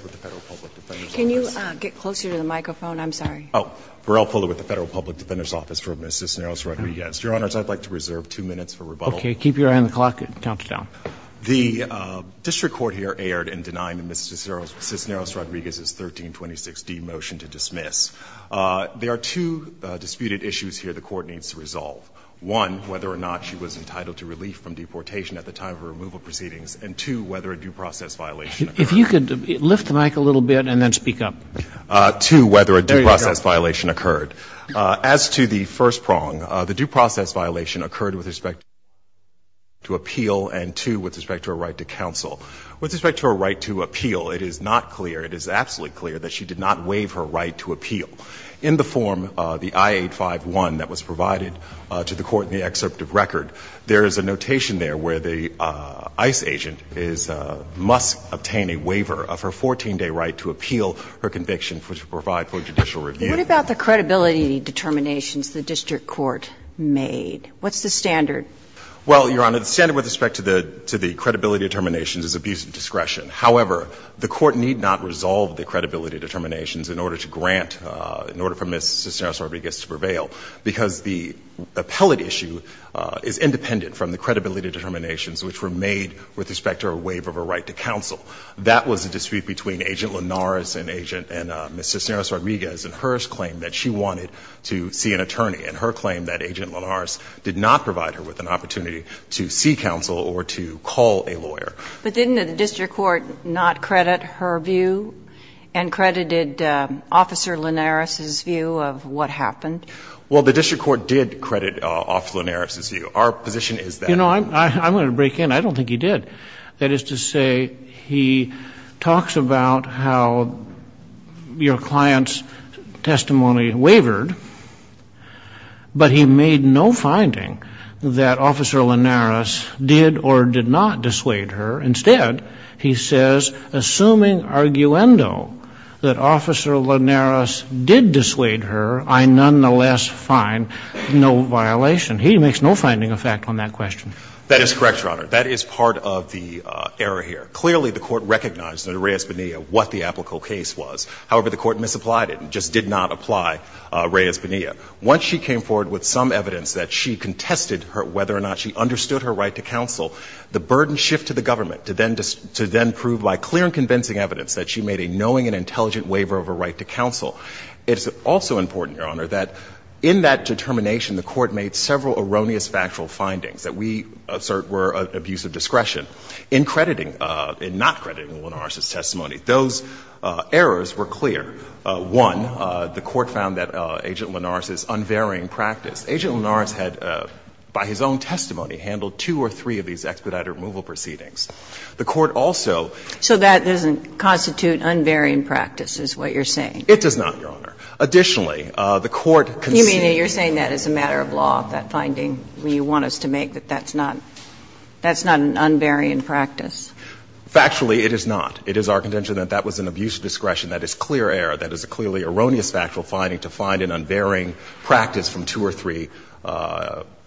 with the Federal Public Defender's Office. Your Honors, I'd like to reserve two minutes for rebuttal. Okay. Keep your eye on the clock. It counts down. The District Court here erred in denying the Ms. Cisneros-Rodriguez's 1326D motion to dismiss. Their actions are, one, whether or not she was entitled to relief from deportation at the time of her removal proceedings, and two, whether a due process violation occurred. If you could, lift the mike a little bit and then speak up. Two, whether a due process violation occurred. As to the first prong, the due process violation occurred with respect to appeal and two, with respect to her right to counsel. With respect to her right to appeal, it is not clear, it is absolutely clear that she did not waive her right to appeal. In the form, the I-851 that was provided to the court in the excerpt of record, there is a notation there where the ICE agent must obtain a waiver of her 14-day right to appeal her conviction to provide for judicial review. What about the credibility determinations the district court made? What's the standard? Well, Your Honor, the standard with respect to the credibility determinations is abuse of discretion. However, the court need not resolve the credibility determinations in order to for Ms. Cisneros-Armiguez to prevail because the appellate issue is independent from the credibility determinations which were made with respect to her waiver of her right to counsel. That was a dispute between Agent Linares and Agent and Ms. Cisneros-Armiguez and her claim that she wanted to see an attorney and her claim that Agent Linares did not provide her with an opportunity to see counsel or to call a lawyer. But didn't the district court not credit her view and credited Officer Linares ' view of what happened? Well, the district court did credit Officer Linares' view. Our position is that. You know, I'm going to break in. I don't think he did. That is to say he talks about how your client's testimony wavered, but he made no finding that Officer Linares did or did not dissuade her. Instead, he says, assuming arguendo that Officer Linares did dissuade her, I nonetheless find no violation. He makes no finding of fact on that question. That is correct, Your Honor. That is part of the error here. Clearly, the court recognized under Reyes-Bonilla what the applicable case was. However, the court misapplied it and just did not apply Reyes-Bonilla. Once she came forward with some evidence that she contested whether or not she understood her right to counsel, the burden shifted to the government to then prove by clear and convincing evidence that she made a knowing and intelligent waiver of her right to counsel. It's also important, Your Honor, that in that determination, the court made several erroneous factual findings that we assert were an abuse of discretion in crediting — in not crediting Linares' testimony. Those errors were clear. One, the court found that Agent Linares' unvarying practice. Agent Linares had, by his own testimony, handled two or three of these expedited removal proceedings. The court also — So that doesn't constitute unvarying practice, is what you're saying? It does not, Your Honor. Additionally, the court conceded — You mean you're saying that as a matter of law, that finding you want us to make, that that's not — that's not an unvarying practice? Factually, it is not. It is our contention that that was an abuse of discretion. That is clear error. That is a clearly erroneous factual finding to find an unvarying practice from two or three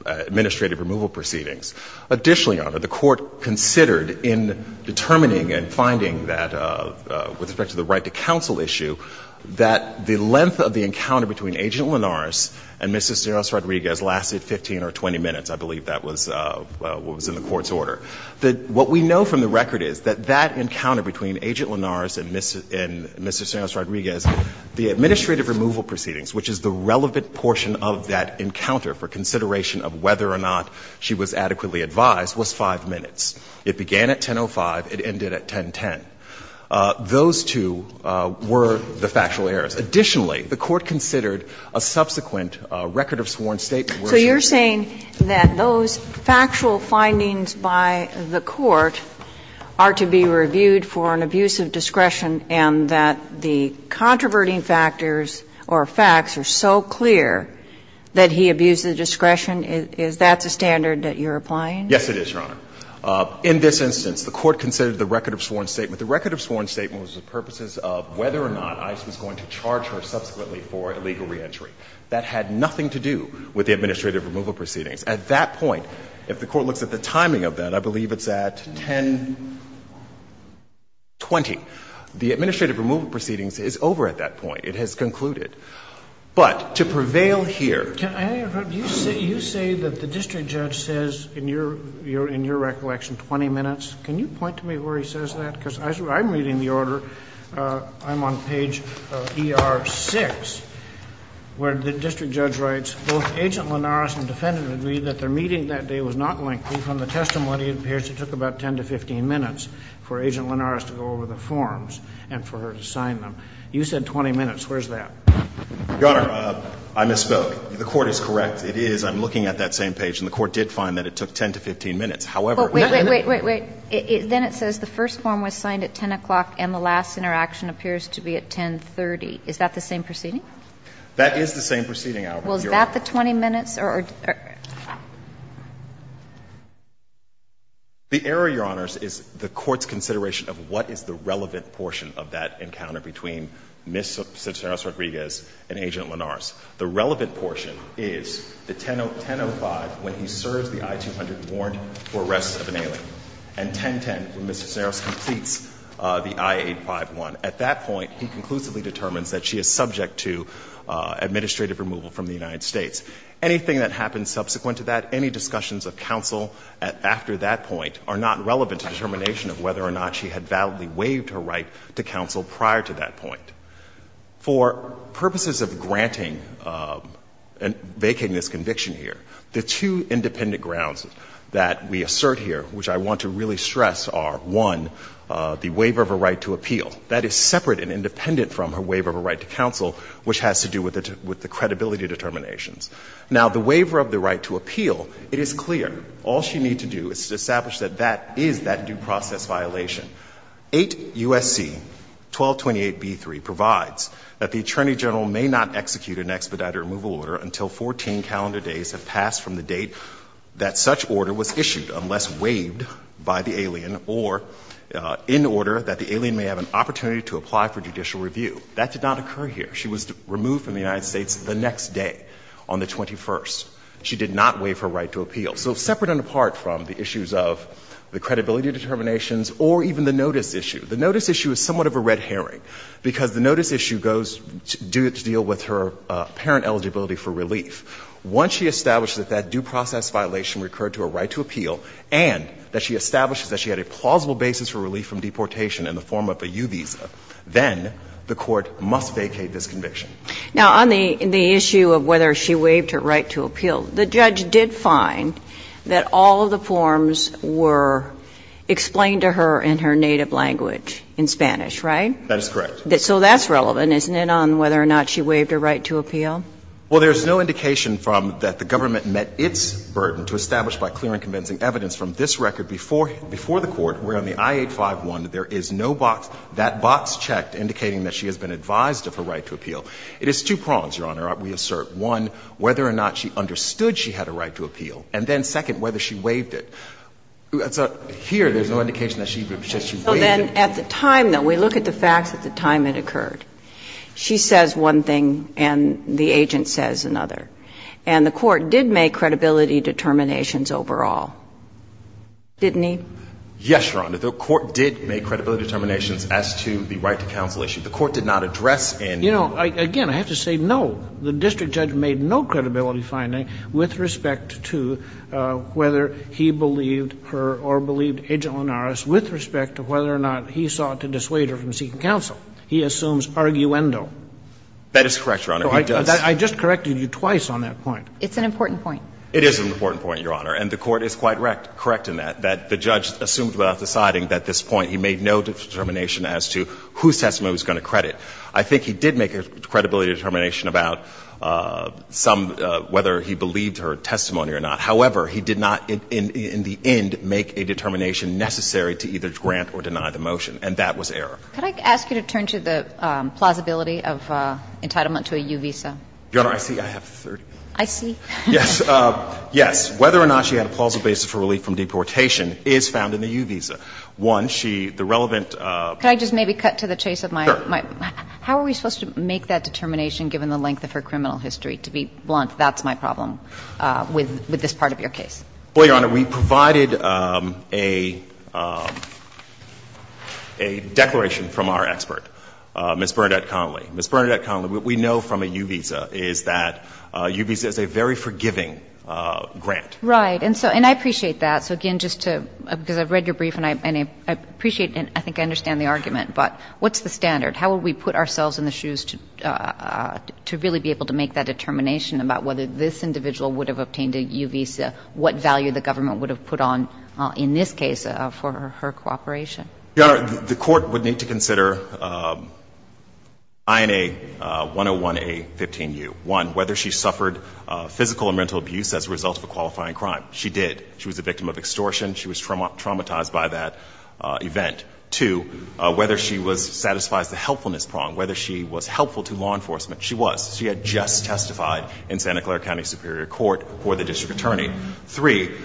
administrative removal proceedings. Additionally, Your Honor, the court considered in determining and finding that, with respect to the right-to-counsel issue, that the length of the encounter between Agent Linares and Mr. Cernoz-Rodriguez lasted 15 or 20 minutes. I believe that was what was in the court's order. What we know from the record is that that encounter between Agent Linares and Mr. Cernoz-Rodriguez was five minutes. The administrative removal proceedings, which is the relevant portion of that encounter for consideration of whether or not she was adequately advised, was five minutes. It began at 10.05. It ended at 10.10. Those two were the factual errors. Additionally, the court considered a subsequent record of sworn statement where she — So you're saying that those factual findings by the court are to be reviewed for an abuse of discretion and that the controverting factors or facts are so clear that he abused the discretion? Is that the standard that you're applying? Yes, it is, Your Honor. In this instance, the court considered the record of sworn statement. The record of sworn statement was the purposes of whether or not ICE was going to charge her subsequently for illegal reentry. That had nothing to do with the administrative removal proceedings. At that point, if the court looks at the timing of that, I believe it's at 10.20. The administrative removal proceedings is over at that point. It has concluded. But to prevail here — Can I interrupt? You say that the district judge says in your recollection 20 minutes. Can you point to me where he says that? Because I'm reading the order. I'm on page ER-6, where the district judge writes, both Agent Linares and defendant agree that their meeting that day was not lengthy. From the testimony, it appears it took about 10 to 15 minutes for Agent Linares to go over the forms and for her to sign them. You said 20 minutes. Where's that? Your Honor, I misspoke. The court is correct. It is. I'm looking at that same page, and the court did find that it took 10 to 15 minutes. However, in that— Wait, wait, wait, wait. Then it says the first form was signed at 10 o'clock and the last interaction appears to be at 10.30. Is that the same proceeding? That is the same proceeding, Your Honor. Well, is that the 20 minutes? The error, Your Honor, is the court's consideration of what is the relevant portion of that encounter between Ms. Cisneros-Rodriguez and Agent Linares. The relevant portion is the 10.05 when he serves the I-200 warrant for arrests of an alien, and 10.10 when Ms. Cisneros completes the I-851. At that point, he conclusively determines that she is subject to administrative removal from the United States. Anything that happens subsequent to that, any discussions of counsel after that point are not relevant to determination of whether or not she had validly waived her right to counsel prior to that point. For purposes of granting and making this conviction here, the two independent grounds that we assert here, which I want to really stress, are, one, the waiver of a right to appeal. That is separate and independent from her waiver of a right to counsel, which has to do with the credibility determinations. Now, the waiver of the right to appeal, it is clear. All she needs to do is to establish that that is that due process violation. 8 U.S.C. 1228b3 provides that the Attorney General may not execute an expedited removal order until 14 calendar days have passed from the date that such order was issued unless waived by the alien or in order that the alien may have an opportunity to apply for judicial review. That did not occur here. She was removed from the United States the next day on the 21st. She did not waive her right to appeal. So separate and apart from the issues of the credibility determinations or even the notice issue, the notice issue is somewhat of a red herring because the notice issue goes to deal with her parent eligibility for relief. Once she establishes that that due process violation recurred to her right to appeal and that she establishes that she had a plausible basis for relief from deportation in the form of a U visa, then the Court must vacate this conviction. Now, on the issue of whether she waived her right to appeal, the judge did find that all of the forms were explained to her in her native language, in Spanish, right? That is correct. So that's relevant, isn't it, on whether or not she waived her right to appeal? Well, there's no indication from that the government met its burden to establish by clear and convincing evidence from this record before the Court where on the I-851 there is no box. That box checked indicating that she has been advised of her right to appeal. It is two prongs, Your Honor, we assert. One, whether or not she understood she had a right to appeal, and then second, whether she waived it. So here there's no indication that she waived it. So then at the time, though, we look at the facts at the time it occurred. She says one thing and the agent says another. And the Court did make credibility determinations overall, didn't he? Yes, Your Honor. The Court did make credibility determinations as to the right to counsel issue. The Court did not address any of that. You know, again, I have to say no. The district judge made no credibility finding with respect to whether he believed her or believed Agent Linares with respect to whether or not he sought to dissuade her from seeking counsel. He assumes arguendo. That is correct, Your Honor. He does. I just corrected you twice on that point. It's an important point. It is an important point, Your Honor. And the Court is quite correct in that, that the judge assumed without deciding at this point he made no determination as to whose testimony he was going to credit. I think he did make a credibility determination about some, whether he believed her testimony or not. However, he did not in the end make a determination necessary to either grant or deny the motion, and that was error. Could I ask you to turn to the plausibility of entitlement to a U visa? Your Honor, I see I have 30 minutes. I see. Yes. Yes. Whether or not she had a plausible basis for relief from deportation is found in the U visa. One, she, the relevant. Could I just maybe cut to the chase of my? Sure. How are we supposed to make that determination given the length of her criminal history? To be blunt, that's my problem with this part of your case. Well, Your Honor, we provided a declaration from our expert, Ms. Bernadette Connolly. Ms. Bernadette Connolly, what we know from a U visa is that U visa is a very forgiving grant. Right. And so, and I appreciate that. So again, just to, because I've read your brief and I appreciate and I think I understand the argument, but what's the standard? How would we put ourselves in the shoes to really be able to make that determination about whether this individual would have obtained a U visa, what value the government would have put on in this case for her cooperation? Your Honor, the court would need to consider INA 101A15U. One, whether she suffered physical and mental abuse as a result of a qualifying crime. She did. She was a victim of extortion. She was traumatized by that event. Two, whether she was, satisfies the helpfulness prong, whether she was helpful to law enforcement. She was. She had just testified in Santa Clara County Superior Court before the district attorney. Three,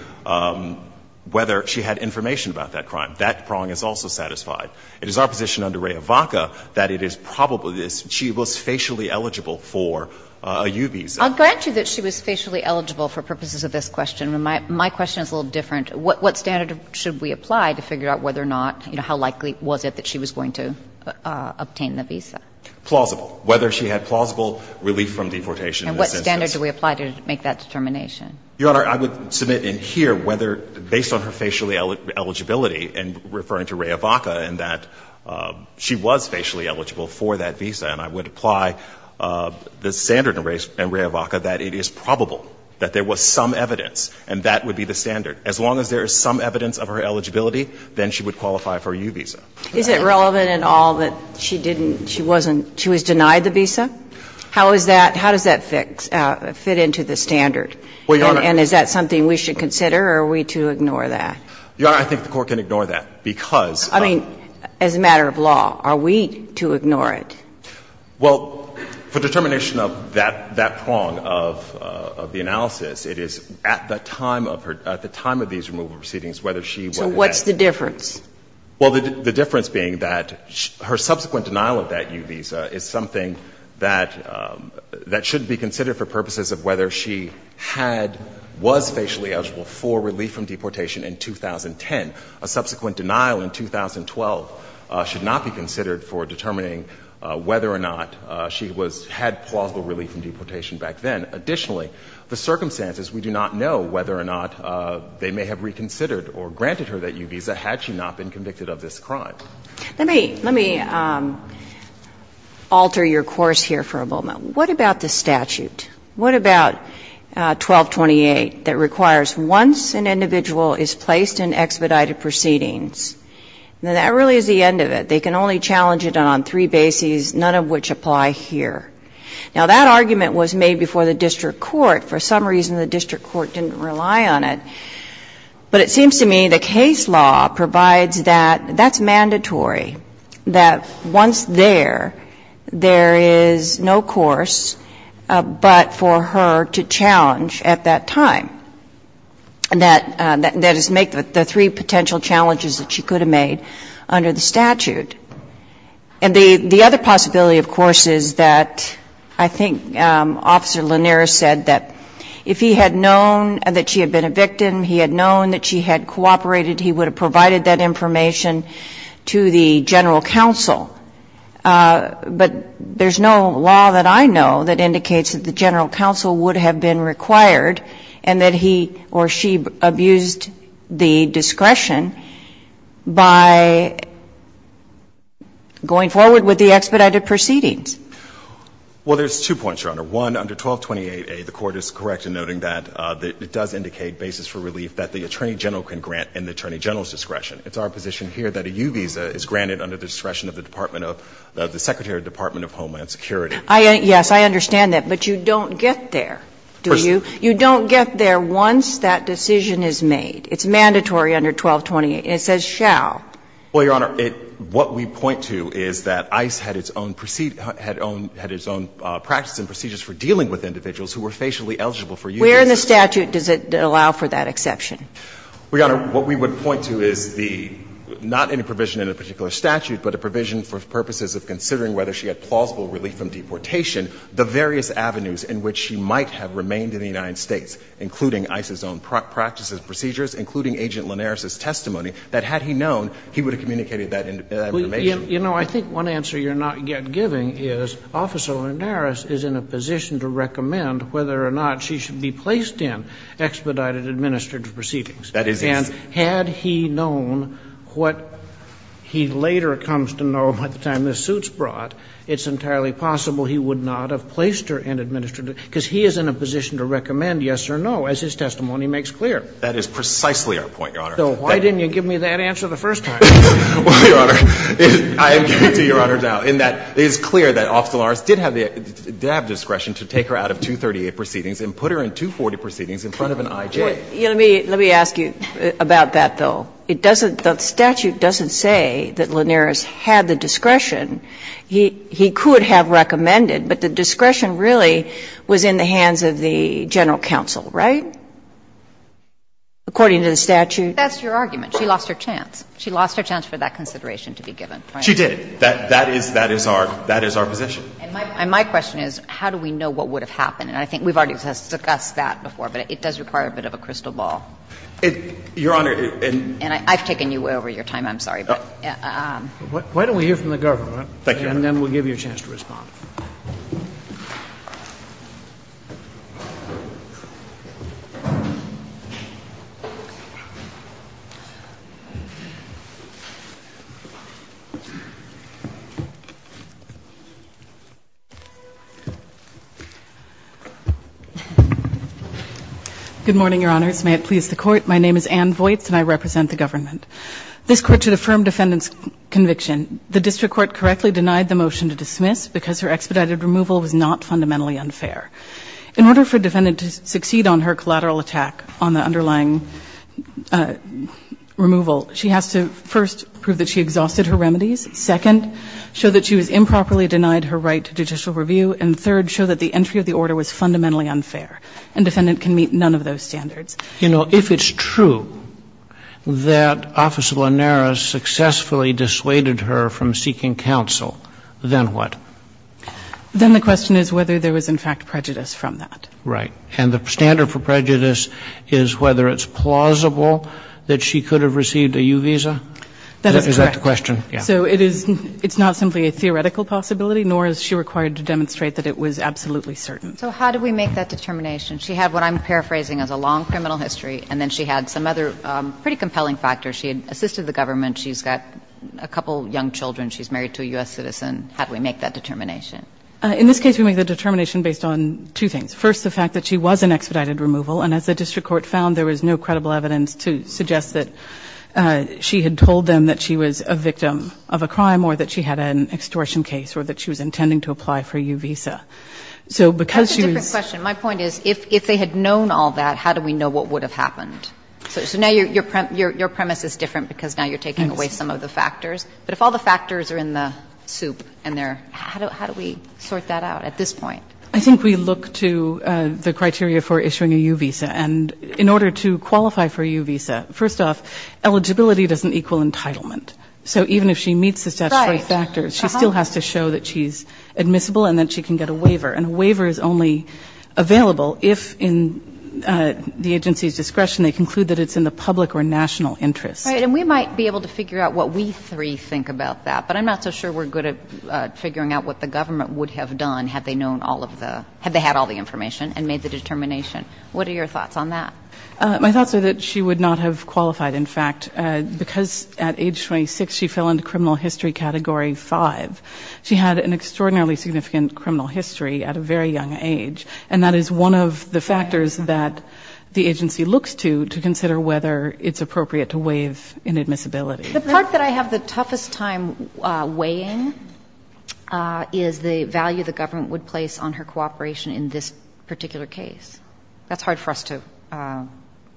whether she had information about that crime. That prong is also satisfied. It is our position under Rehavaca that it is probably this. She was facially eligible for a U visa. I'll grant you that she was facially eligible for purposes of this question. My question is a little different. What standard should we apply to figure out whether or not, you know, how likely was it that she was going to obtain the visa? Plausible. Whether she had plausible relief from deportation in this instance. And what standard do we apply to make that determination? Your Honor, I would submit in here whether, based on her facially eligibility and referring to Rehavaca in that she was facially eligible for that visa, and I would apply the standard in Rehavaca that it is probable that there was some evidence and that would be the standard. As long as there is some evidence of her eligibility, then she would qualify for a U visa. Is it relevant at all that she didn't, she wasn't, she was denied the visa? How is that, how does that fit into the standard? Well, Your Honor. And is that something we should consider or are we to ignore that? Your Honor, I think the Court can ignore that because of. I mean, as a matter of law, are we to ignore it? Well, for determination of that prong of the analysis, it is at the time of her, at the time of these removal proceedings, whether she was. So what's the difference? Well, the difference being that her subsequent denial of that U visa is something that, that should be considered for purposes of whether she had, was facially eligible for relief from deportation in 2010. A subsequent denial in 2012 should not be considered for determining whether or not she was, had plausible relief from deportation back then. Additionally, the circumstances, we do not know whether or not they may have reconsidered or granted her that U visa had she not been convicted of this crime. Let me, let me alter your course here for a moment. What about the statute? What about 1228 that requires once an individual is placed in expedited proceedings? Now, that really is the end of it. They can only challenge it on three bases, none of which apply here. Now, that argument was made before the district court. For some reason, the district court didn't rely on it. But it seems to me the case law provides that that's mandatory, that once there, there is no course but for her to challenge at that time. That is, make the three potential challenges that she could have made under the statute. And the other possibility, of course, is that I think Officer Lanier said that if he had known that she had been a victim, he had known that she had cooperated, he would have provided that information to the general counsel. But there's no law that I know that indicates that the general counsel would have been required and that he or she abused the discretion by going forward with the expedited proceedings. Well, there's two points, Your Honor. One, under 1228A, the Court is correct in noting that it does indicate basis for relief that the Attorney General can grant in the Attorney General's discretion. It's our position here that a U visa is granted under the discretion of the Department of the Secretary of the Department of Homeland Security. Yes, I understand that. But you don't get there, do you? You don't get there once that decision is made. It's mandatory under 1228. It says shall. Well, Your Honor, what we point to is that ICE had its own procedure, had its own practices and procedures for dealing with individuals who were facially eligible for U visas. Where in the statute does it allow for that exception? Well, Your Honor, what we would point to is the, not any provision in a particular statute, but a provision for purposes of considering whether she had plausible relief from deportation, the various avenues in which she might have remained in the United States, including ICE's own practices and procedures, including Agent Linares' testimony, that had he known, he would have communicated that information. Well, Your Honor, you know, I think one answer you're not yet giving is Officer Linares is in a position to recommend whether or not she should be placed in expedited administrative proceedings. That is his. And had he known what he later comes to know by the time this suit's brought, it's entirely possible he would not have placed her in administrative, because he is in a position to recommend yes or no, as his testimony makes clear. That is precisely our point, Your Honor. So why didn't you give me that answer the first time? Well, Your Honor, I am giving it to Your Honor now, in that it is clear that Officer Linares did have the, did have discretion to take her out of 238 proceedings and put her in 240 proceedings in front of an IJ. Let me ask you about that, though. It doesn't, the statute doesn't say that Linares had the discretion. He could have recommended, but the discretion really was in the hands of the general counsel, right, according to the statute? That's your argument. She lost her chance. She lost her chance for that consideration to be given. She did. That is, that is our, that is our position. And my question is, how do we know what would have happened? And I think we've already discussed that before, but it does require a bit of a crystal ball. It, Your Honor, it. And I've taken you way over your time. I'm sorry, but. Why don't we hear from the government? Thank you, Your Honor. And then we'll give you a chance to respond. Good morning, Your Honors. May it please the Court. My name is Ann Voights, and I represent the government. This Court should affirm defendant's conviction. The district court correctly denied the motion to dismiss because her expedited removal was not fundamentally unfair. In order for a defendant to succeed on her collateral attack on the underlying removal, she has to first prove that she exhausted her remedies, second, show that she was improperly denied her right to judicial review, and third, show that the entry of the order was fundamentally unfair. And defendant can meet none of those standards. You know, if it's true that Officer Lanara successfully dissuaded her from seeking counsel, then what? Then the question is whether there was, in fact, prejudice from that. Right. And the standard for prejudice is whether it's plausible that she could have received a U visa? That is correct. Is that the question? Yeah. So it is, it's not simply a theoretical possibility, nor is she required to demonstrate that it was absolutely certain. So how do we make that determination? She had what I'm paraphrasing as a long criminal history, and then she had some other pretty compelling factors. She had assisted the government. She's got a couple of young children. She's married to a U.S. citizen. How do we make that determination? In this case, we make the determination based on two things. First, the fact that she was in expedited removal, and as the district court found, there was no credible evidence to suggest that she had told them that she was a victim of a crime or that she had an extortion case or that she was intending to apply for a U visa. So because she was That's a different question. My point is, if they had known all that, how do we know what would have happened? So now your premise is different because now you're taking away some of the factors. But if all the factors are in the soup and they're How do we sort that out at this point? I think we look to the criteria for issuing a U visa. And in order to qualify for a U visa, first off, eligibility doesn't equal entitlement. So even if she meets the statutory factors, she still has to show that she's admissible and that she can get a waiver. And a waiver is only available if in the agency's discretion they conclude that it's in the public or national interest. Right. And we might be able to figure out what we three think about that. But I'm not so sure we're good at figuring out what the government would have done had they known all of the had they had all the information and made the determination. What are your thoughts on that? My thoughts are that she would not have qualified. In fact, because at age 26, she fell into criminal history category 5. She had an extraordinarily significant criminal history at a very young age. And that is one of the factors that the agency looks to to consider whether it's appropriate to waive inadmissibility. The part that I have the toughest time weighing is the value the government would place on her cooperation in this particular case. That's hard for us to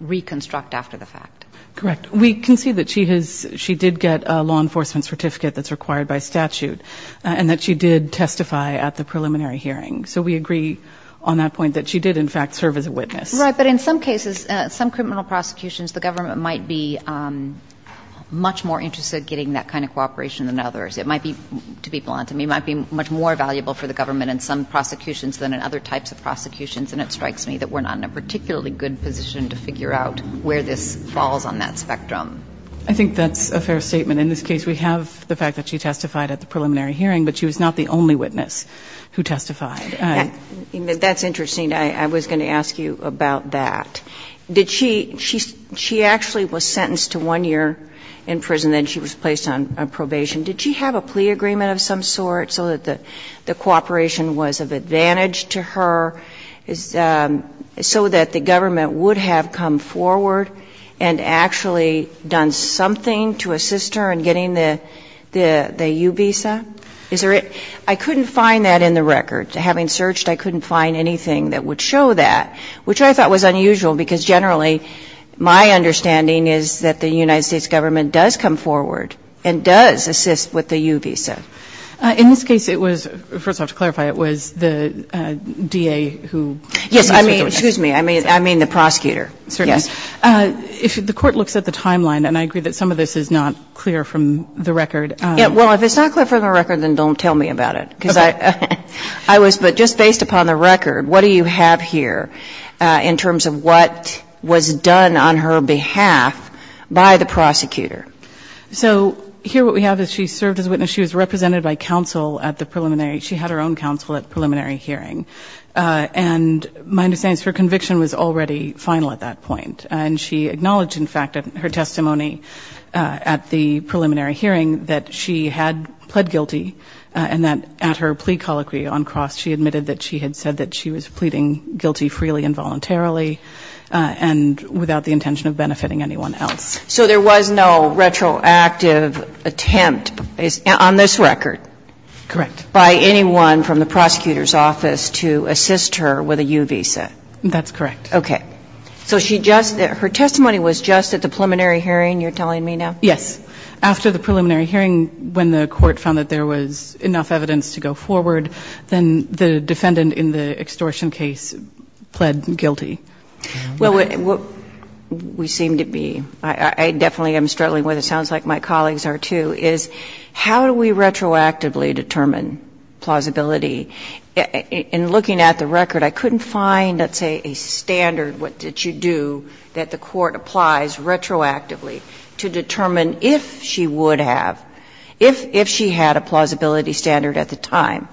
reconstruct after the fact. Correct. We can see that she did get a law enforcement certificate that's required by statute. And that she did testify at the preliminary hearing. So we agree on that point that she did, in fact, serve as a witness. Right. But in some cases, some criminal prosecutions, the government might be much more interested in getting that kind of cooperation than others. It might be, to be blunt to me, it might be much more valuable for the government in some prosecutions than in other types of prosecutions. And it strikes me that we're not in a particularly good position to figure out where this falls on that spectrum. I think that's a fair statement. In this case, we have the fact that she testified at the preliminary hearing, but she was not the only witness who testified. That's interesting. I was going to ask you about that. Did she – she actually was sentenced to one year in prison, then she was placed on probation. Did she have a plea agreement of some sort so that the cooperation was of advantage to her, so that the government would have come forward and actually done something to assist her in getting the U visa? Is there a – I couldn't find that in the record. Having searched, I couldn't find anything that would show that, which I thought was unusual, because generally, my understanding is that the United States government does come forward and does assist with the U visa. In this case, it was – first off, to clarify, it was the DA who – Yes, I mean – excuse me. I mean the prosecutor. Certainly. Yes. The court looks at the timeline, and I agree that some of this is not clear from the record. Well, if it's not clear from the record, then don't tell me about it, because I was – but just based upon the record, what do you have here in terms of what was done on her behalf by the prosecutor? So here what we have is she served as a witness. She was represented by counsel at the preliminary – she had her own counsel at the preliminary hearing. And my understanding is her conviction was already final at that point, and she acknowledged, in fact, in her testimony at the preliminary hearing that she had pled guilty, and that at her plea colloquy on cross, she admitted that she had said that she was pleading guilty freely and voluntarily and without the intention of benefiting anyone else. So there was no retroactive attempt on this record by anyone from the prosecutor's office to assist her with a U visa? That's correct. Okay. So she just – her testimony was just at the preliminary hearing, you're telling me now? Yes. After the preliminary hearing, when the Court found that there was enough evidence to go forward, then the defendant in the extortion case pled guilty. Well, what we seem to be – I definitely am struggling with it. It sounds like my colleagues are, too, is how do we retroactively determine plausibility? In looking at the record, I couldn't find, let's say, a standard, what did she do, that the Court applies retroactively to determine if she would have, if she had a plausibility standard at the time.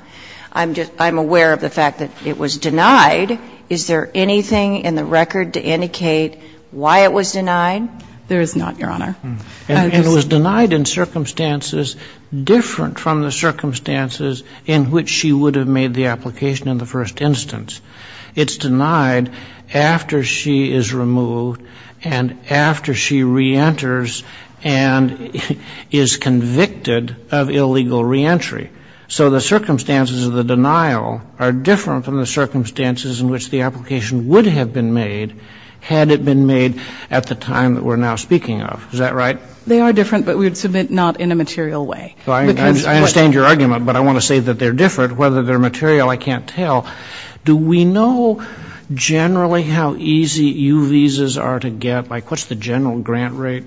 I'm aware of the fact that it was denied. Is there anything in the record to indicate why it was denied? There is not, Your Honor. And it was denied in circumstances different from the circumstances in which she would have made the application in the first instance. It's denied after she is removed and after she reenters and is convicted of illegal reentry. So the circumstances of the denial are different from the circumstances in which the application would have been made had it been made at the time that we're now speaking of. Is that right? They are different, but we would submit not in a material way. I understand your argument, but I want to say that they're different. Whether they're material, I can't tell. Do we know generally how easy U visas are to get? Like what's the general grant rate?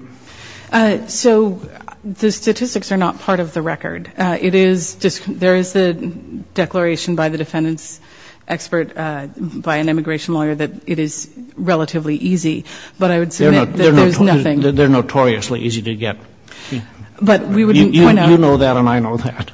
So the statistics are not part of the record. It is, there is a declaration by the defendant's expert, by an immigration lawyer, that it is relatively easy. But I would submit that there's nothing. They're notoriously easy to get. You know that and I know that.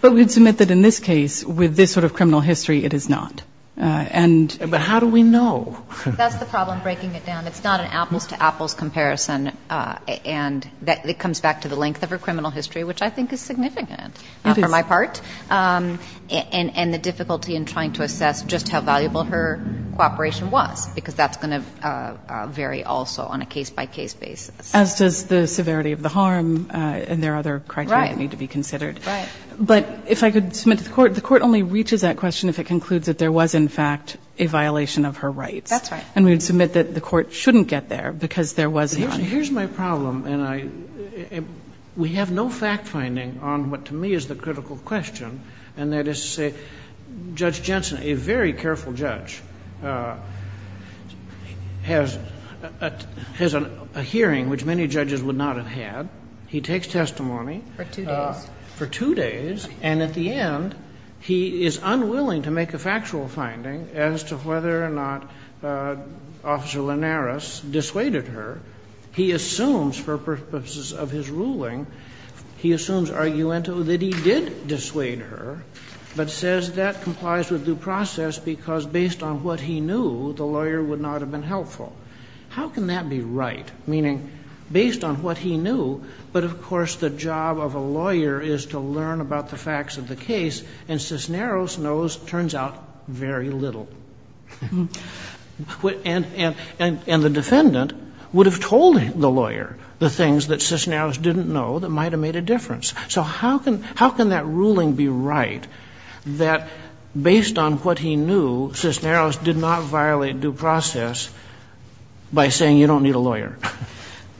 But we would submit that in this case, with this sort of criminal history, it is not. But how do we know? That's the problem, breaking it down. It's not an apples-to-apples comparison. And it comes back to the length of her criminal history, which I think is significant for my part, and the difficulty in trying to assess just how valuable her cooperation was, because that's going to vary also on a case-by-case basis. As does the severity of the harm and there are other criteria that need to be considered. Right. But if I could submit to the court, the court only reaches that question if it concludes that there was, in fact, a violation of her rights. That's right. And we would submit that the court shouldn't get there because there was none. Here's my problem, and we have no fact-finding on what to me is the critical question, and that is to say Judge Jensen, a very careful judge, has a hearing which many judges would not have had. He takes testimony. For two days. For two days. And at the end, he is unwilling to make a factual finding as to whether or not Officer Linares dissuaded her. He assumes, for purposes of his ruling, he assumes argumento that he did dissuade her, but says that complies with due process because based on what he knew, the lawyer would not have been helpful. How can that be right? Meaning, based on what he knew, but of course the job of a lawyer is to learn about the facts of the case, and Cisneros knows, it turns out, very little. And the defendant would have told the lawyer the things that Cisneros didn't know that might have made a difference. So how can that ruling be right, that based on what he knew, Cisneros did not violate due process by saying you don't need a lawyer?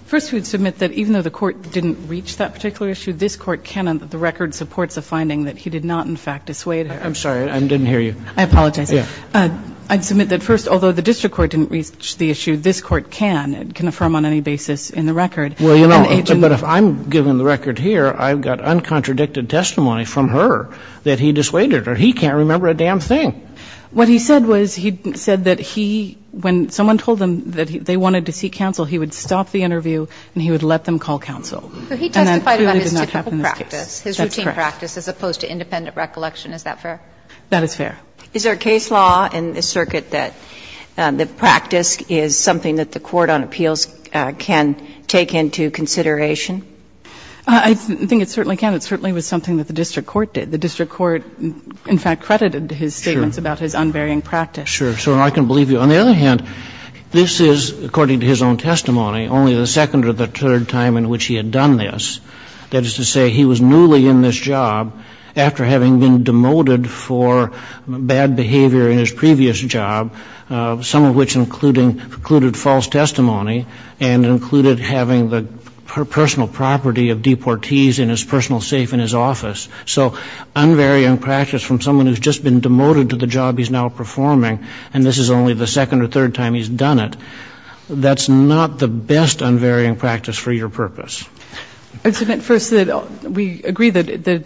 First, we would submit that even though the Court didn't reach that particular issue, this Court can, on the record, support the finding that he did not, in fact, dissuade her. I'm sorry. I didn't hear you. I apologize. I would submit that first, although the district court didn't reach the issue, this Court can. It can affirm on any basis in the record. Well, you know, but if I'm giving the record here, I've got uncontradicted testimony from her that he dissuaded her. He can't remember a damn thing. What he said was he said that he, when someone told him that they wanted to seek counsel, he would stop the interview and he would let them call counsel. So he testified about his typical practice, his routine practice, as opposed to independent recollection. Is that fair? That is fair. Is there a case law in this circuit that the practice is something that the court on appeals can take into consideration? I think it certainly can. It certainly was something that the district court did. The district court, in fact, credited his statements about his unvarying practice. Sure. Sure. And I can believe you. On the other hand, this is, according to his own testimony, only the second or the third time in which he had done this. That is to say, he was newly in this job after having been demoted for bad behavior in his previous job, some of which included false testimony and included having the personal property of deportees in his personal safe in his office. So unvarying practice from someone who has just been demoted to the job he's now performing, and this is only the second or third time he's done it, that's not the best unvarying practice for your purpose. First, we agree that the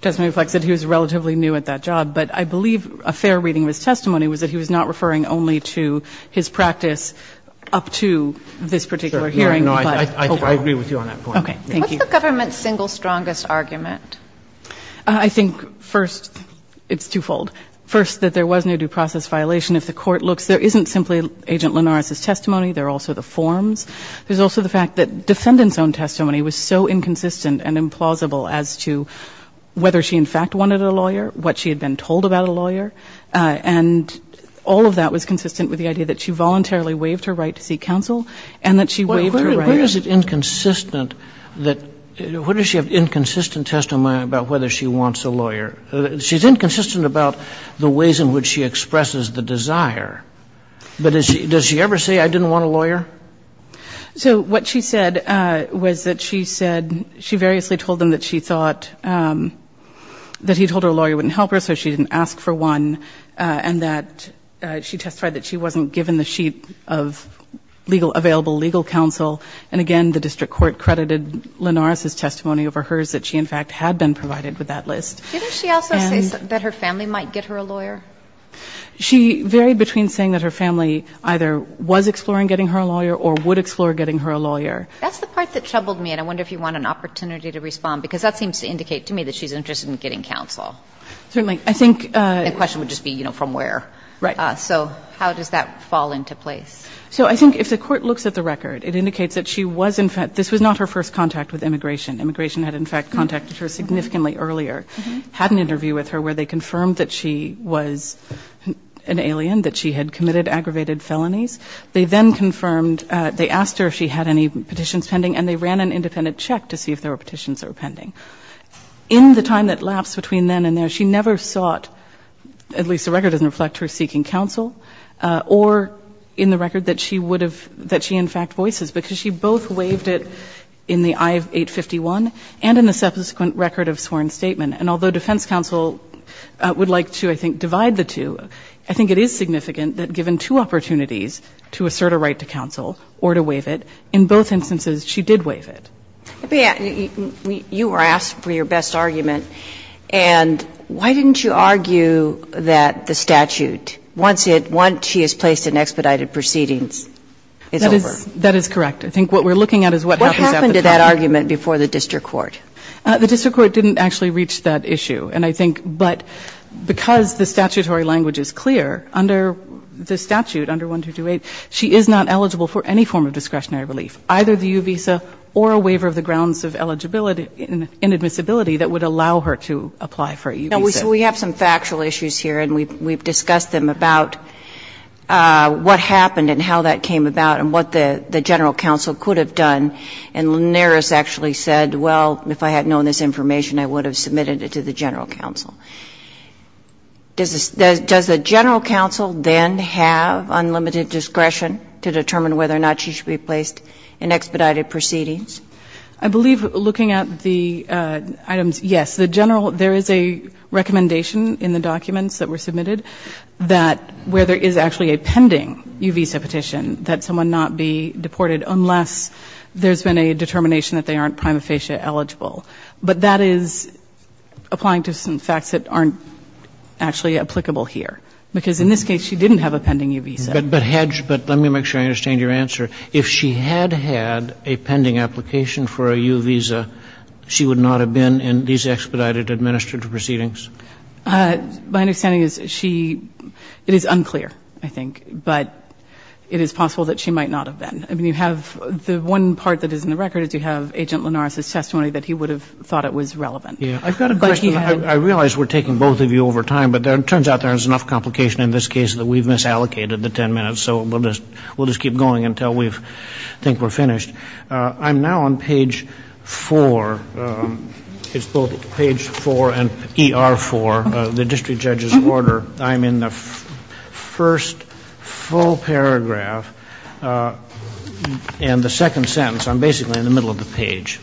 testimony reflects that he was relatively new at that job. But I believe a fair reading of his testimony was that he was not referring only to his practice up to this particular hearing. Sure. No, I agree with you on that point. Okay. Thank you. What's the government's single strongest argument? I think, first, it's twofold. First, that there was no due process violation. If the court looks, there isn't simply Agent Linares' testimony. There are also the forms. There's also the fact that defendant's own testimony was so inconsistent and implausible as to whether she in fact wanted a lawyer, what she had been told about a lawyer, and all of that was consistent with the idea that she voluntarily waived her right to seek counsel and that she waived her right. Well, where is it inconsistent that ‑‑ where does she have inconsistent testimony about whether she wants a lawyer? She's inconsistent about the ways in which she expresses the desire. But does she ever say, I didn't want a lawyer? So what she said was that she said she variously told them that she thought that he told her a lawyer wouldn't help her, so she didn't ask for one, and that she testified that she wasn't given the sheet of available legal counsel. And, again, the district court credited Linares' testimony over hers that she in fact had been provided with that list. Didn't she also say that her family might get her a lawyer? She varied between saying that her family either was exploring getting her a lawyer or would explore getting her a lawyer. That's the part that troubled me, and I wonder if you want an opportunity to respond, because that seems to indicate to me that she's interested in getting counsel. Certainly. The question would just be, you know, from where. Right. So how does that fall into place? So I think if the court looks at the record, it indicates that she was in fact ‑‑ this was not her first contact with immigration. Immigration had in fact contacted her significantly earlier, had an interview with her where they confirmed that she was an alien, that she had committed aggravated felonies. They then confirmed ‑‑ they asked her if she had any petitions pending, and they ran an independent check to see if there were petitions that were pending. In the time that lapsed between then and there, she never sought, at least the record doesn't reflect her seeking counsel, or in the record that she would have ‑‑ that she in fact voices, because she both waived it in the I-851 and in the subsequent record of sworn statement. And although defense counsel would like to, I think, divide the two, I think it is significant that given two opportunities to assert a right to counsel or to waive it, in both instances she did waive it. But you were asked for your best argument, and why didn't you argue that the statute, once it ‑‑ once she is placed in expedited proceedings, is over? That is correct. I think what we're looking at is what happens at the time. The district court didn't actually reach that issue, and I think ‑‑ but because the statutory language is clear, under the statute, under 1228, she is not eligible for any form of discretionary relief, either the U‑Visa or a waiver of the grounds of eligibility and admissibility that would allow her to apply for a U‑Visa. We have some factual issues here, and we've discussed them about what happened and how that came about and what the general counsel could have done and Linares actually said, well, if I had known this information, I would have submitted it to the general counsel. Does the general counsel then have unlimited discretion to determine whether or not she should be placed in expedited proceedings? I believe, looking at the items, yes. The general ‑‑ there is a recommendation in the documents that were submitted that where there is actually a pending U‑Visa petition, that someone not be deported unless there's been a determination that they aren't prima facie eligible. But that is applying to some facts that aren't actually applicable here. Because in this case, she didn't have a pending U‑Visa. But, Hedge, let me make sure I understand your answer. If she had had a pending application for a U‑Visa, she would not have been in these expedited administered proceedings? My understanding is she ‑‑ it is unclear, I think. But it is possible that she might not have been. The one part that is in the record is you have Agent Linares' testimony that he would have thought it was relevant. I've got a question. I realize we're taking both of you over time, but it turns out there's enough complication in this case that we've misallocated the ten minutes. So we'll just keep going until we think we're finished. I'm now on page 4. It's both page 4 and ER 4, the district judge's order. I'm in the first full paragraph and the second sentence. I'm basically in the middle of the page.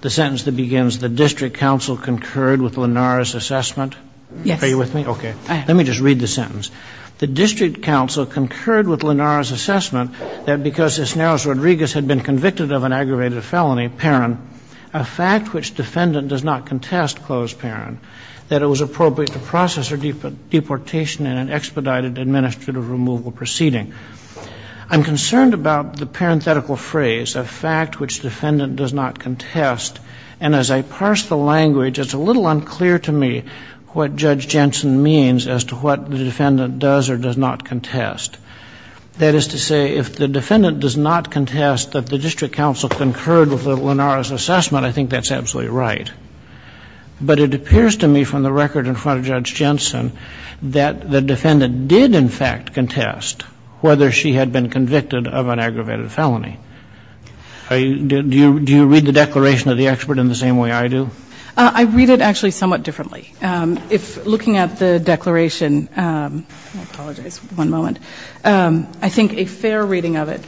The sentence that begins, the district counsel concurred with Linares' assessment. Yes. Are you with me? Okay. Let me just read the sentence. The district counsel concurred with Linares' assessment that because Isneros Rodriguez had been convicted of an aggravated felony, parent, a fact which defendant does not contest, that it was appropriate to process her deportation in an expedited administrative removal proceeding. I'm concerned about the parenthetical phrase, a fact which defendant does not contest, and as I parse the language it's a little unclear to me what Judge Jensen means as to what the defendant does or does not contest. That is to say, if the defendant does not contest that the district counsel concurred with Linares' assessment, I think that's absolutely right. But it appears to me from the record in front of Judge Jensen that the defendant did, in fact, contest whether she had been convicted of an aggravated felony. Do you read the declaration of the expert in the same way I do? I read it actually somewhat differently. If looking at the declaration, I apologize, one moment, I think a fair reading of it.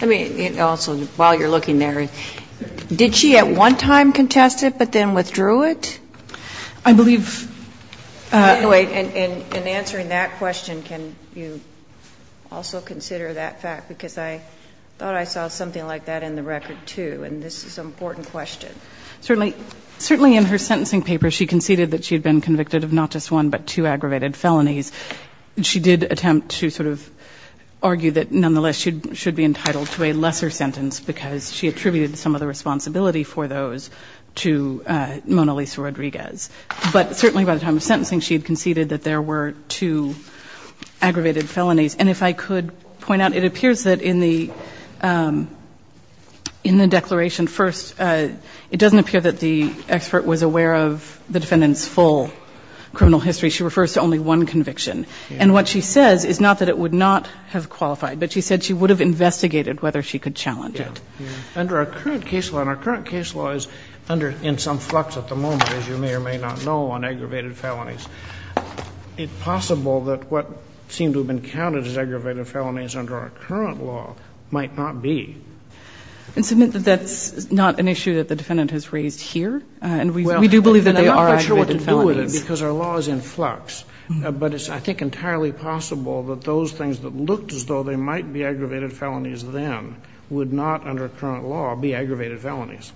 I mean, also while you're looking there, did she at one time contest it but then withdrew it? I believe. In answering that question, can you also consider that fact? Because I thought I saw something like that in the record, too, and this is an important question. Certainly in her sentencing paper she conceded that she had been convicted of not just one but two aggravated felonies. She did attempt to sort of argue that nonetheless she should be entitled to a lesser sentence because she attributed some of the responsibility for those to Mona Lisa Rodriguez. But certainly by the time of sentencing she had conceded that there were two aggravated felonies. And if I could point out, it appears that in the declaration, first it doesn't appear that the expert was aware of the defendant's full criminal history. She refers to only one conviction. And what she says is not that it would not have qualified, but she said she would have investigated whether she could challenge it. And our current case law is in some flux at the moment, as you may or may not know, on aggravated felonies. Is it possible that what seemed to have been counted as aggravated felonies under our current law might not be? That's not an issue that the defendant has raised here. And we do believe that there are aggravated felonies. Because our law is in flux. But it's, I think, entirely possible that those things that looked as though they might be aggravated felonies then would not, under current law, be aggravated felonies.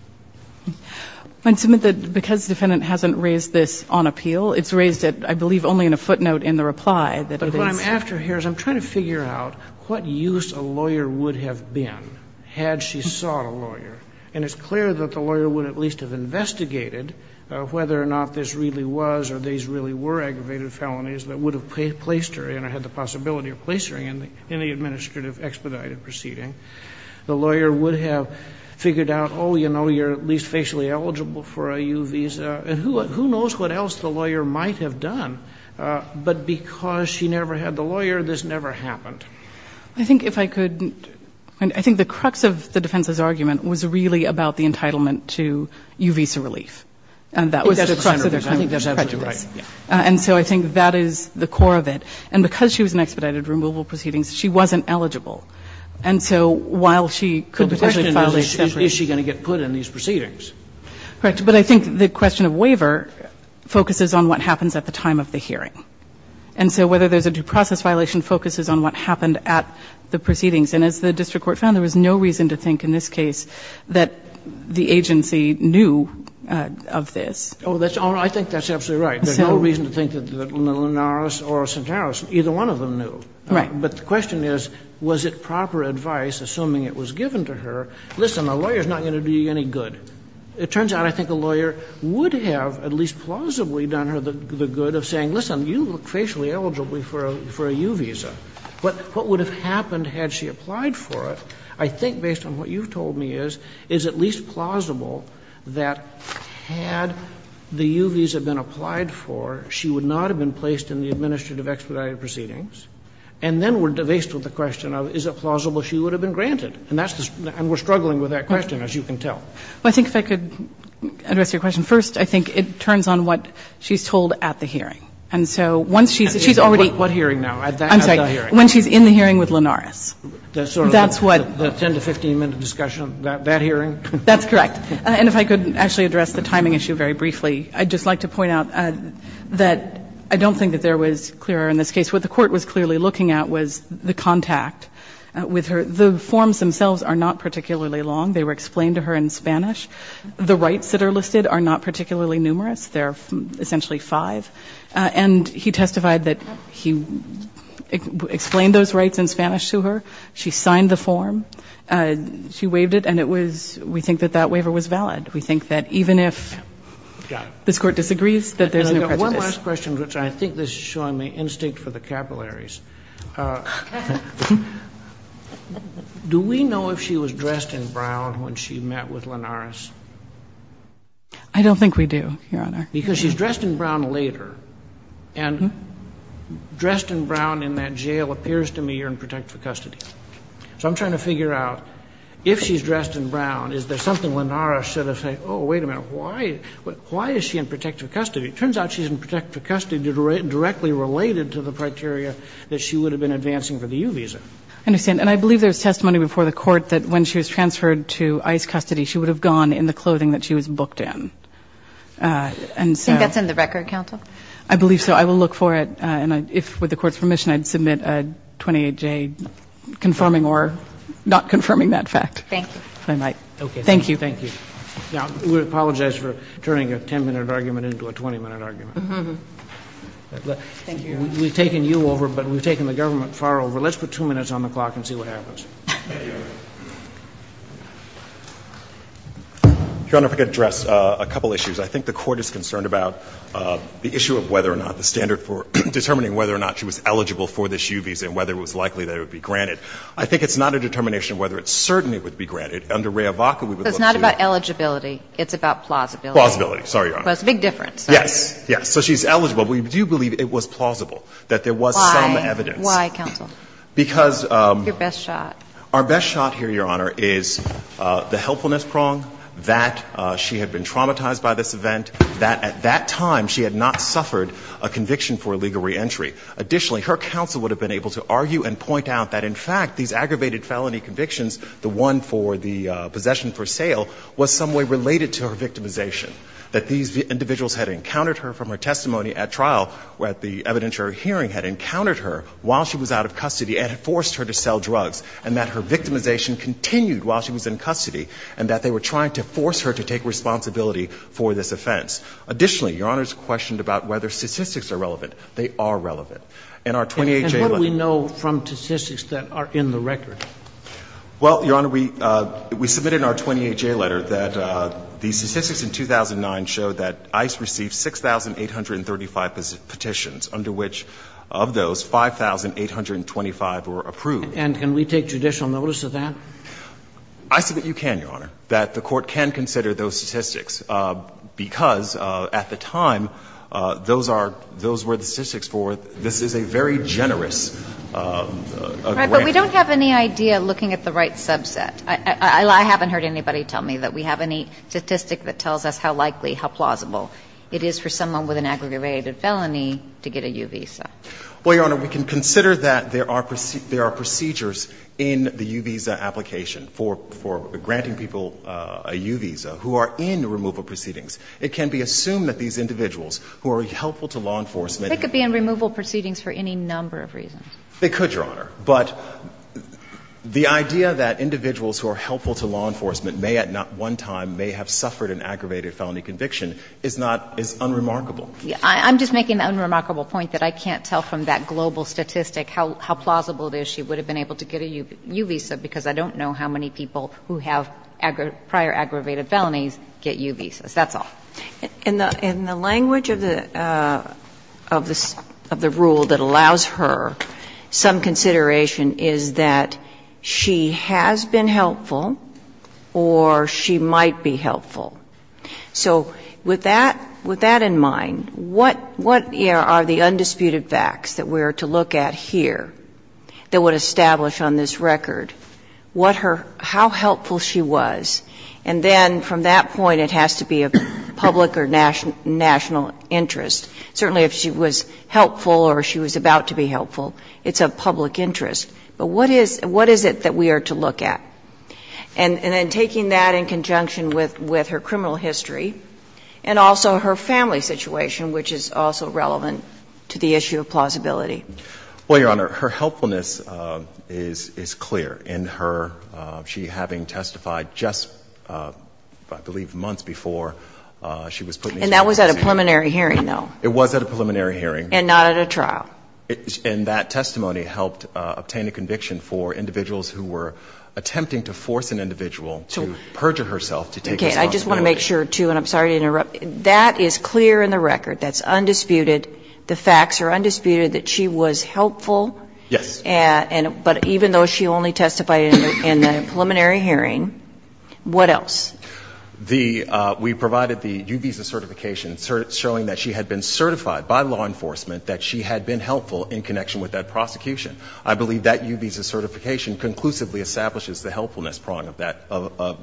I'd submit that because the defendant hasn't raised this on appeal, it's raised it, I believe, only in a footnote in the reply. But what I'm after here is I'm trying to figure out what use a lawyer would have been had she sought a lawyer. And it's clear that the lawyer would at least have investigated whether or not this really was or these really were aggravated felonies that would have placed her and had the possibility of placing her in the administrative expedited proceeding. The lawyer would have figured out, oh, you know, you're at least facially eligible for a U visa. And who knows what else the lawyer might have done. But because she never had the lawyer, this never happened. I think if I could, I think the crux of the defense's argument was really about the entitlement to U visa relief. And that was the crux of the prejudice. And so I think that is the core of it. And because she was in expedited removal proceedings, she wasn't eligible. And so while she could potentially file a separate case. Scalia, is she going to get put in these proceedings? Correct. But I think the question of waiver focuses on what happens at the time of the hearing. And so whether there's a due process violation focuses on what happened at the proceedings. And as the district court found, there was no reason to think in this case that the lawyer would have done the good of this. Oh, I think that's absolutely right. There's no reason to think that Linares or Santaros, either one of them knew. Right. But the question is, was it proper advice, assuming it was given to her, listen, a lawyer is not going to do you any good. It turns out I think a lawyer would have at least plausibly done her the good of saying, listen, you look facially eligible for a U visa. But what would have happened had she applied for it, I think based on what you've said, is it plausible that had the U visa been applied for, she would not have been placed in the administrative expedited proceedings? And then we're devastated with the question of is it plausible she would have been granted? And that's the question. And we're struggling with that question, as you can tell. Well, I think if I could address your question. First, I think it turns on what she's told at the hearing. And so once she's already. What hearing now? I'm sorry. When she's in the hearing with Linares. That's sort of the 10 to 15-minute discussion. That hearing? That's correct. And if I could actually address the timing issue very briefly, I'd just like to point out that I don't think that there was clear error in this case. What the court was clearly looking at was the contact with her. The forms themselves are not particularly long. They were explained to her in Spanish. The rights that are listed are not particularly numerous. There are essentially five. And he testified that he explained those rights in Spanish to her. She signed the form. She waived it. And we think that that waiver was valid. We think that even if this court disagrees, that there's no prejudice. I've got one last question, which I think this is showing me instinct for the capillaries. Do we know if she was dressed in brown when she met with Linares? I don't think we do, Your Honor. Because she's dressed in brown later. And dressed in brown in that jail appears to me you're in protective custody. So I'm trying to figure out if she's dressed in brown, is there something Linares should have said, oh, wait a minute, why is she in protective custody? It turns out she's in protective custody directly related to the criteria that she would have been advancing for the U visa. I understand. And I believe there was testimony before the court that when she was transferred to ICE custody, she would have gone in the clothing that she was booked in. Do you think that's in the record, counsel? I believe so. I will look for it. And if, with the court's permission, I'd submit a 28-J confirming or not confirming that fact. Thank you. If I might. Okay. Thank you. Thank you. Now, we apologize for turning a 10-minute argument into a 20-minute argument. Thank you, Your Honor. We've taken you over, but we've taken the government far over. Let's put two minutes on the clock and see what happens. Thank you, Your Honor. Your Honor, if I could address a couple issues. I think the court is concerned about the issue of whether or not the standard for determining whether or not she was eligible for this U visa and whether it was likely that it would be granted. I think it's not a determination of whether it certainly would be granted. Under Rhea Vaca, we would look to the ---- It's not about eligibility. It's about plausibility. Plausibility. Sorry, Your Honor. It's a big difference. Yes. Yes. So she's eligible. We do believe it was plausible that there was some evidence. Why? Why, counsel? Because ---- Your best shot. Our best shot here, Your Honor, is the helpfulness prong, that she had been traumatized by this event, that at that time she had not suffered a conviction for illegal reentry. Additionally, her counsel would have been able to argue and point out that, in fact, these aggravated felony convictions, the one for the possession for sale, was some way related to her victimization, that these individuals had encountered her from her testimony at trial, where the evidence or hearing had encountered her while she was out of custody and had forced her to sell drugs. And that her victimization continued while she was in custody, and that they were trying to force her to take responsibility for this offense. Additionally, Your Honor is questioned about whether statistics are relevant. They are relevant. In our 28J letter ---- And what do we know from statistics that are in the record? Well, Your Honor, we submitted in our 28J letter that the statistics in 2009 showed that ICE received 6,835 petitions, under which, of those, 5,825 were approved. And can we take judicial notice of that? I submit you can, Your Honor, that the Court can consider those statistics, because at the time those were the statistics for this is a very generous grant. Right, but we don't have any idea, looking at the right subset, I haven't heard anybody tell me that we have any statistic that tells us how likely, how plausible it is for someone with an aggravated felony to get a U visa. Well, Your Honor, we can consider that there are procedures in the U visa application for granting people a U visa who are in removal proceedings. It can be assumed that these individuals who are helpful to law enforcement ---- They could be in removal proceedings for any number of reasons. They could, Your Honor. But the idea that individuals who are helpful to law enforcement may at not one time may have suffered an aggravated felony conviction is not as unremarkable. I'm just making the unremarkable point that I can't tell from that global statistic how plausible it is she would have been able to get a U visa, because I don't know how many people who have prior aggravated felonies get U visas. That's all. In the language of the rule that allows her some consideration is that she has been helpful or she might be helpful. So with that in mind, what are the undisputed facts that we are to look at here that would establish on this record what her ---- how helpful she was? And then from that point, it has to be of public or national interest. Certainly if she was helpful or she was about to be helpful, it's of public interest. But what is it that we are to look at? And then taking that in conjunction with her criminal history and also her family situation, which is also relevant to the issue of plausibility. Well, Your Honor, her helpfulness is clear in her ---- she having testified just, I believe, months before she was put into custody. And that was at a preliminary hearing, though. It was at a preliminary hearing. And not at a trial. And that testimony helped obtain a conviction for individuals who were attempting to force an individual to perjure herself to take responsibility. Okay. I just want to make sure, too, and I'm sorry to interrupt. That is clear in the record. That's undisputed. The facts are undisputed that she was helpful. Yes. But even though she only testified in the preliminary hearing, what else? The ---- we provided the U visa certification showing that she had been certified by law enforcement, that she had been helpful in connection with that prosecution. I believe that U visa certification conclusively establishes the helpfulness prong of that,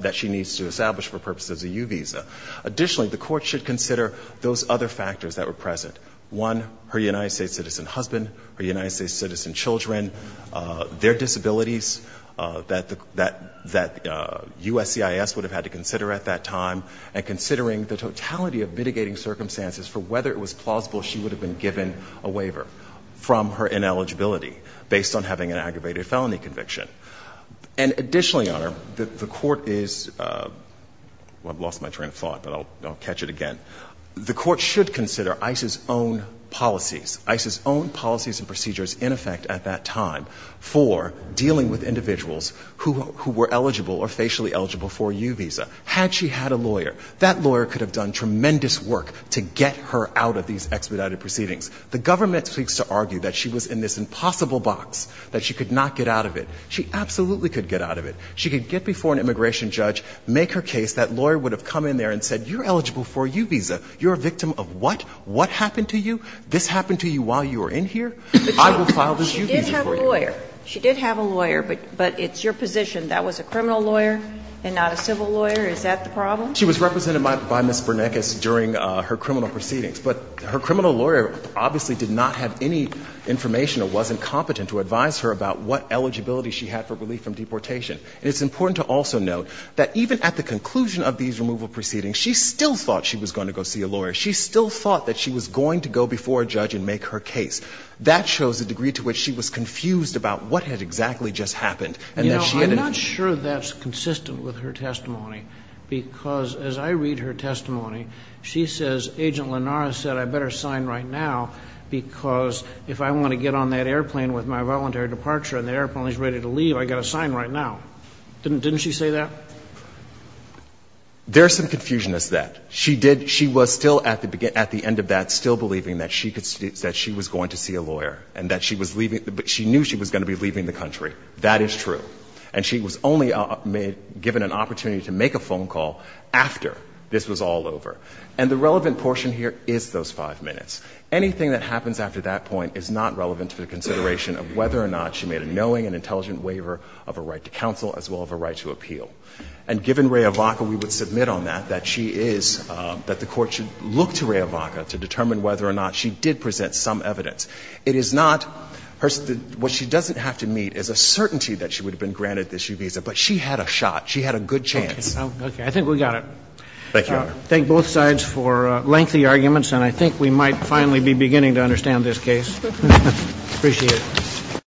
that she needs to establish for purposes of U visa. Additionally, the Court should consider those other factors that were present. One, her United States citizen husband, her United States citizen children, their disabilities that the USCIS would have had to consider at that time, and she would have been given a waiver from her ineligibility based on having an aggravated felony conviction. And additionally, Your Honor, the Court is ---- well, I've lost my train of thought, but I'll catch it again. The Court should consider ICE's own policies, ICE's own policies and procedures in effect at that time for dealing with individuals who were eligible or facially eligible for a U visa. Had she had a lawyer, that lawyer could have done tremendous work to get her out of these expedited proceedings. The government seeks to argue that she was in this impossible box, that she could not get out of it. She absolutely could get out of it. She could get before an immigration judge, make her case. That lawyer would have come in there and said, you're eligible for a U visa. You're a victim of what? What happened to you? This happened to you while you were in here? I will file this U visa for you. She did have a lawyer. She did have a lawyer, but it's your position. That was a criminal lawyer and not a civil lawyer. Is that the problem? She was represented by Ms. Bernanke during her criminal proceedings. But her criminal lawyer obviously did not have any information or wasn't competent to advise her about what eligibility she had for relief from deportation. And it's important to also note that even at the conclusion of these removal proceedings, she still thought she was going to go see a lawyer. She still thought that she was going to go before a judge and make her case. That shows the degree to which she was confused about what had exactly just happened and that she hadn't. I'm not sure that's consistent with her testimony, because as I read her testimony, she says, Agent Linares said, I better sign right now because if I want to get on that airplane with my voluntary departure and the airplane is ready to leave, I've got to sign right now. Didn't she say that? There's some confusion as that. She was still at the end of that still believing that she was going to see a lawyer and that she knew she was going to be leaving the country. That is true. And she was only given an opportunity to make a phone call after this was all over. And the relevant portion here is those 5 minutes. Anything that happens after that point is not relevant to the consideration of whether or not she made a knowing and intelligent waiver of a right to counsel as well as a right to appeal. And given Raya Vaca, we would submit on that, that she is, that the Court should look to Raya Vaca to determine whether or not she did present some evidence. It is not her, what she doesn't have to meet is a certainty that she would have been granted this U visa. But she had a shot. She had a good chance. Okay. I think we got it. Thank you, Your Honor. Thank both sides for lengthy arguments. And I think we might finally be beginning to understand this case. Appreciate it.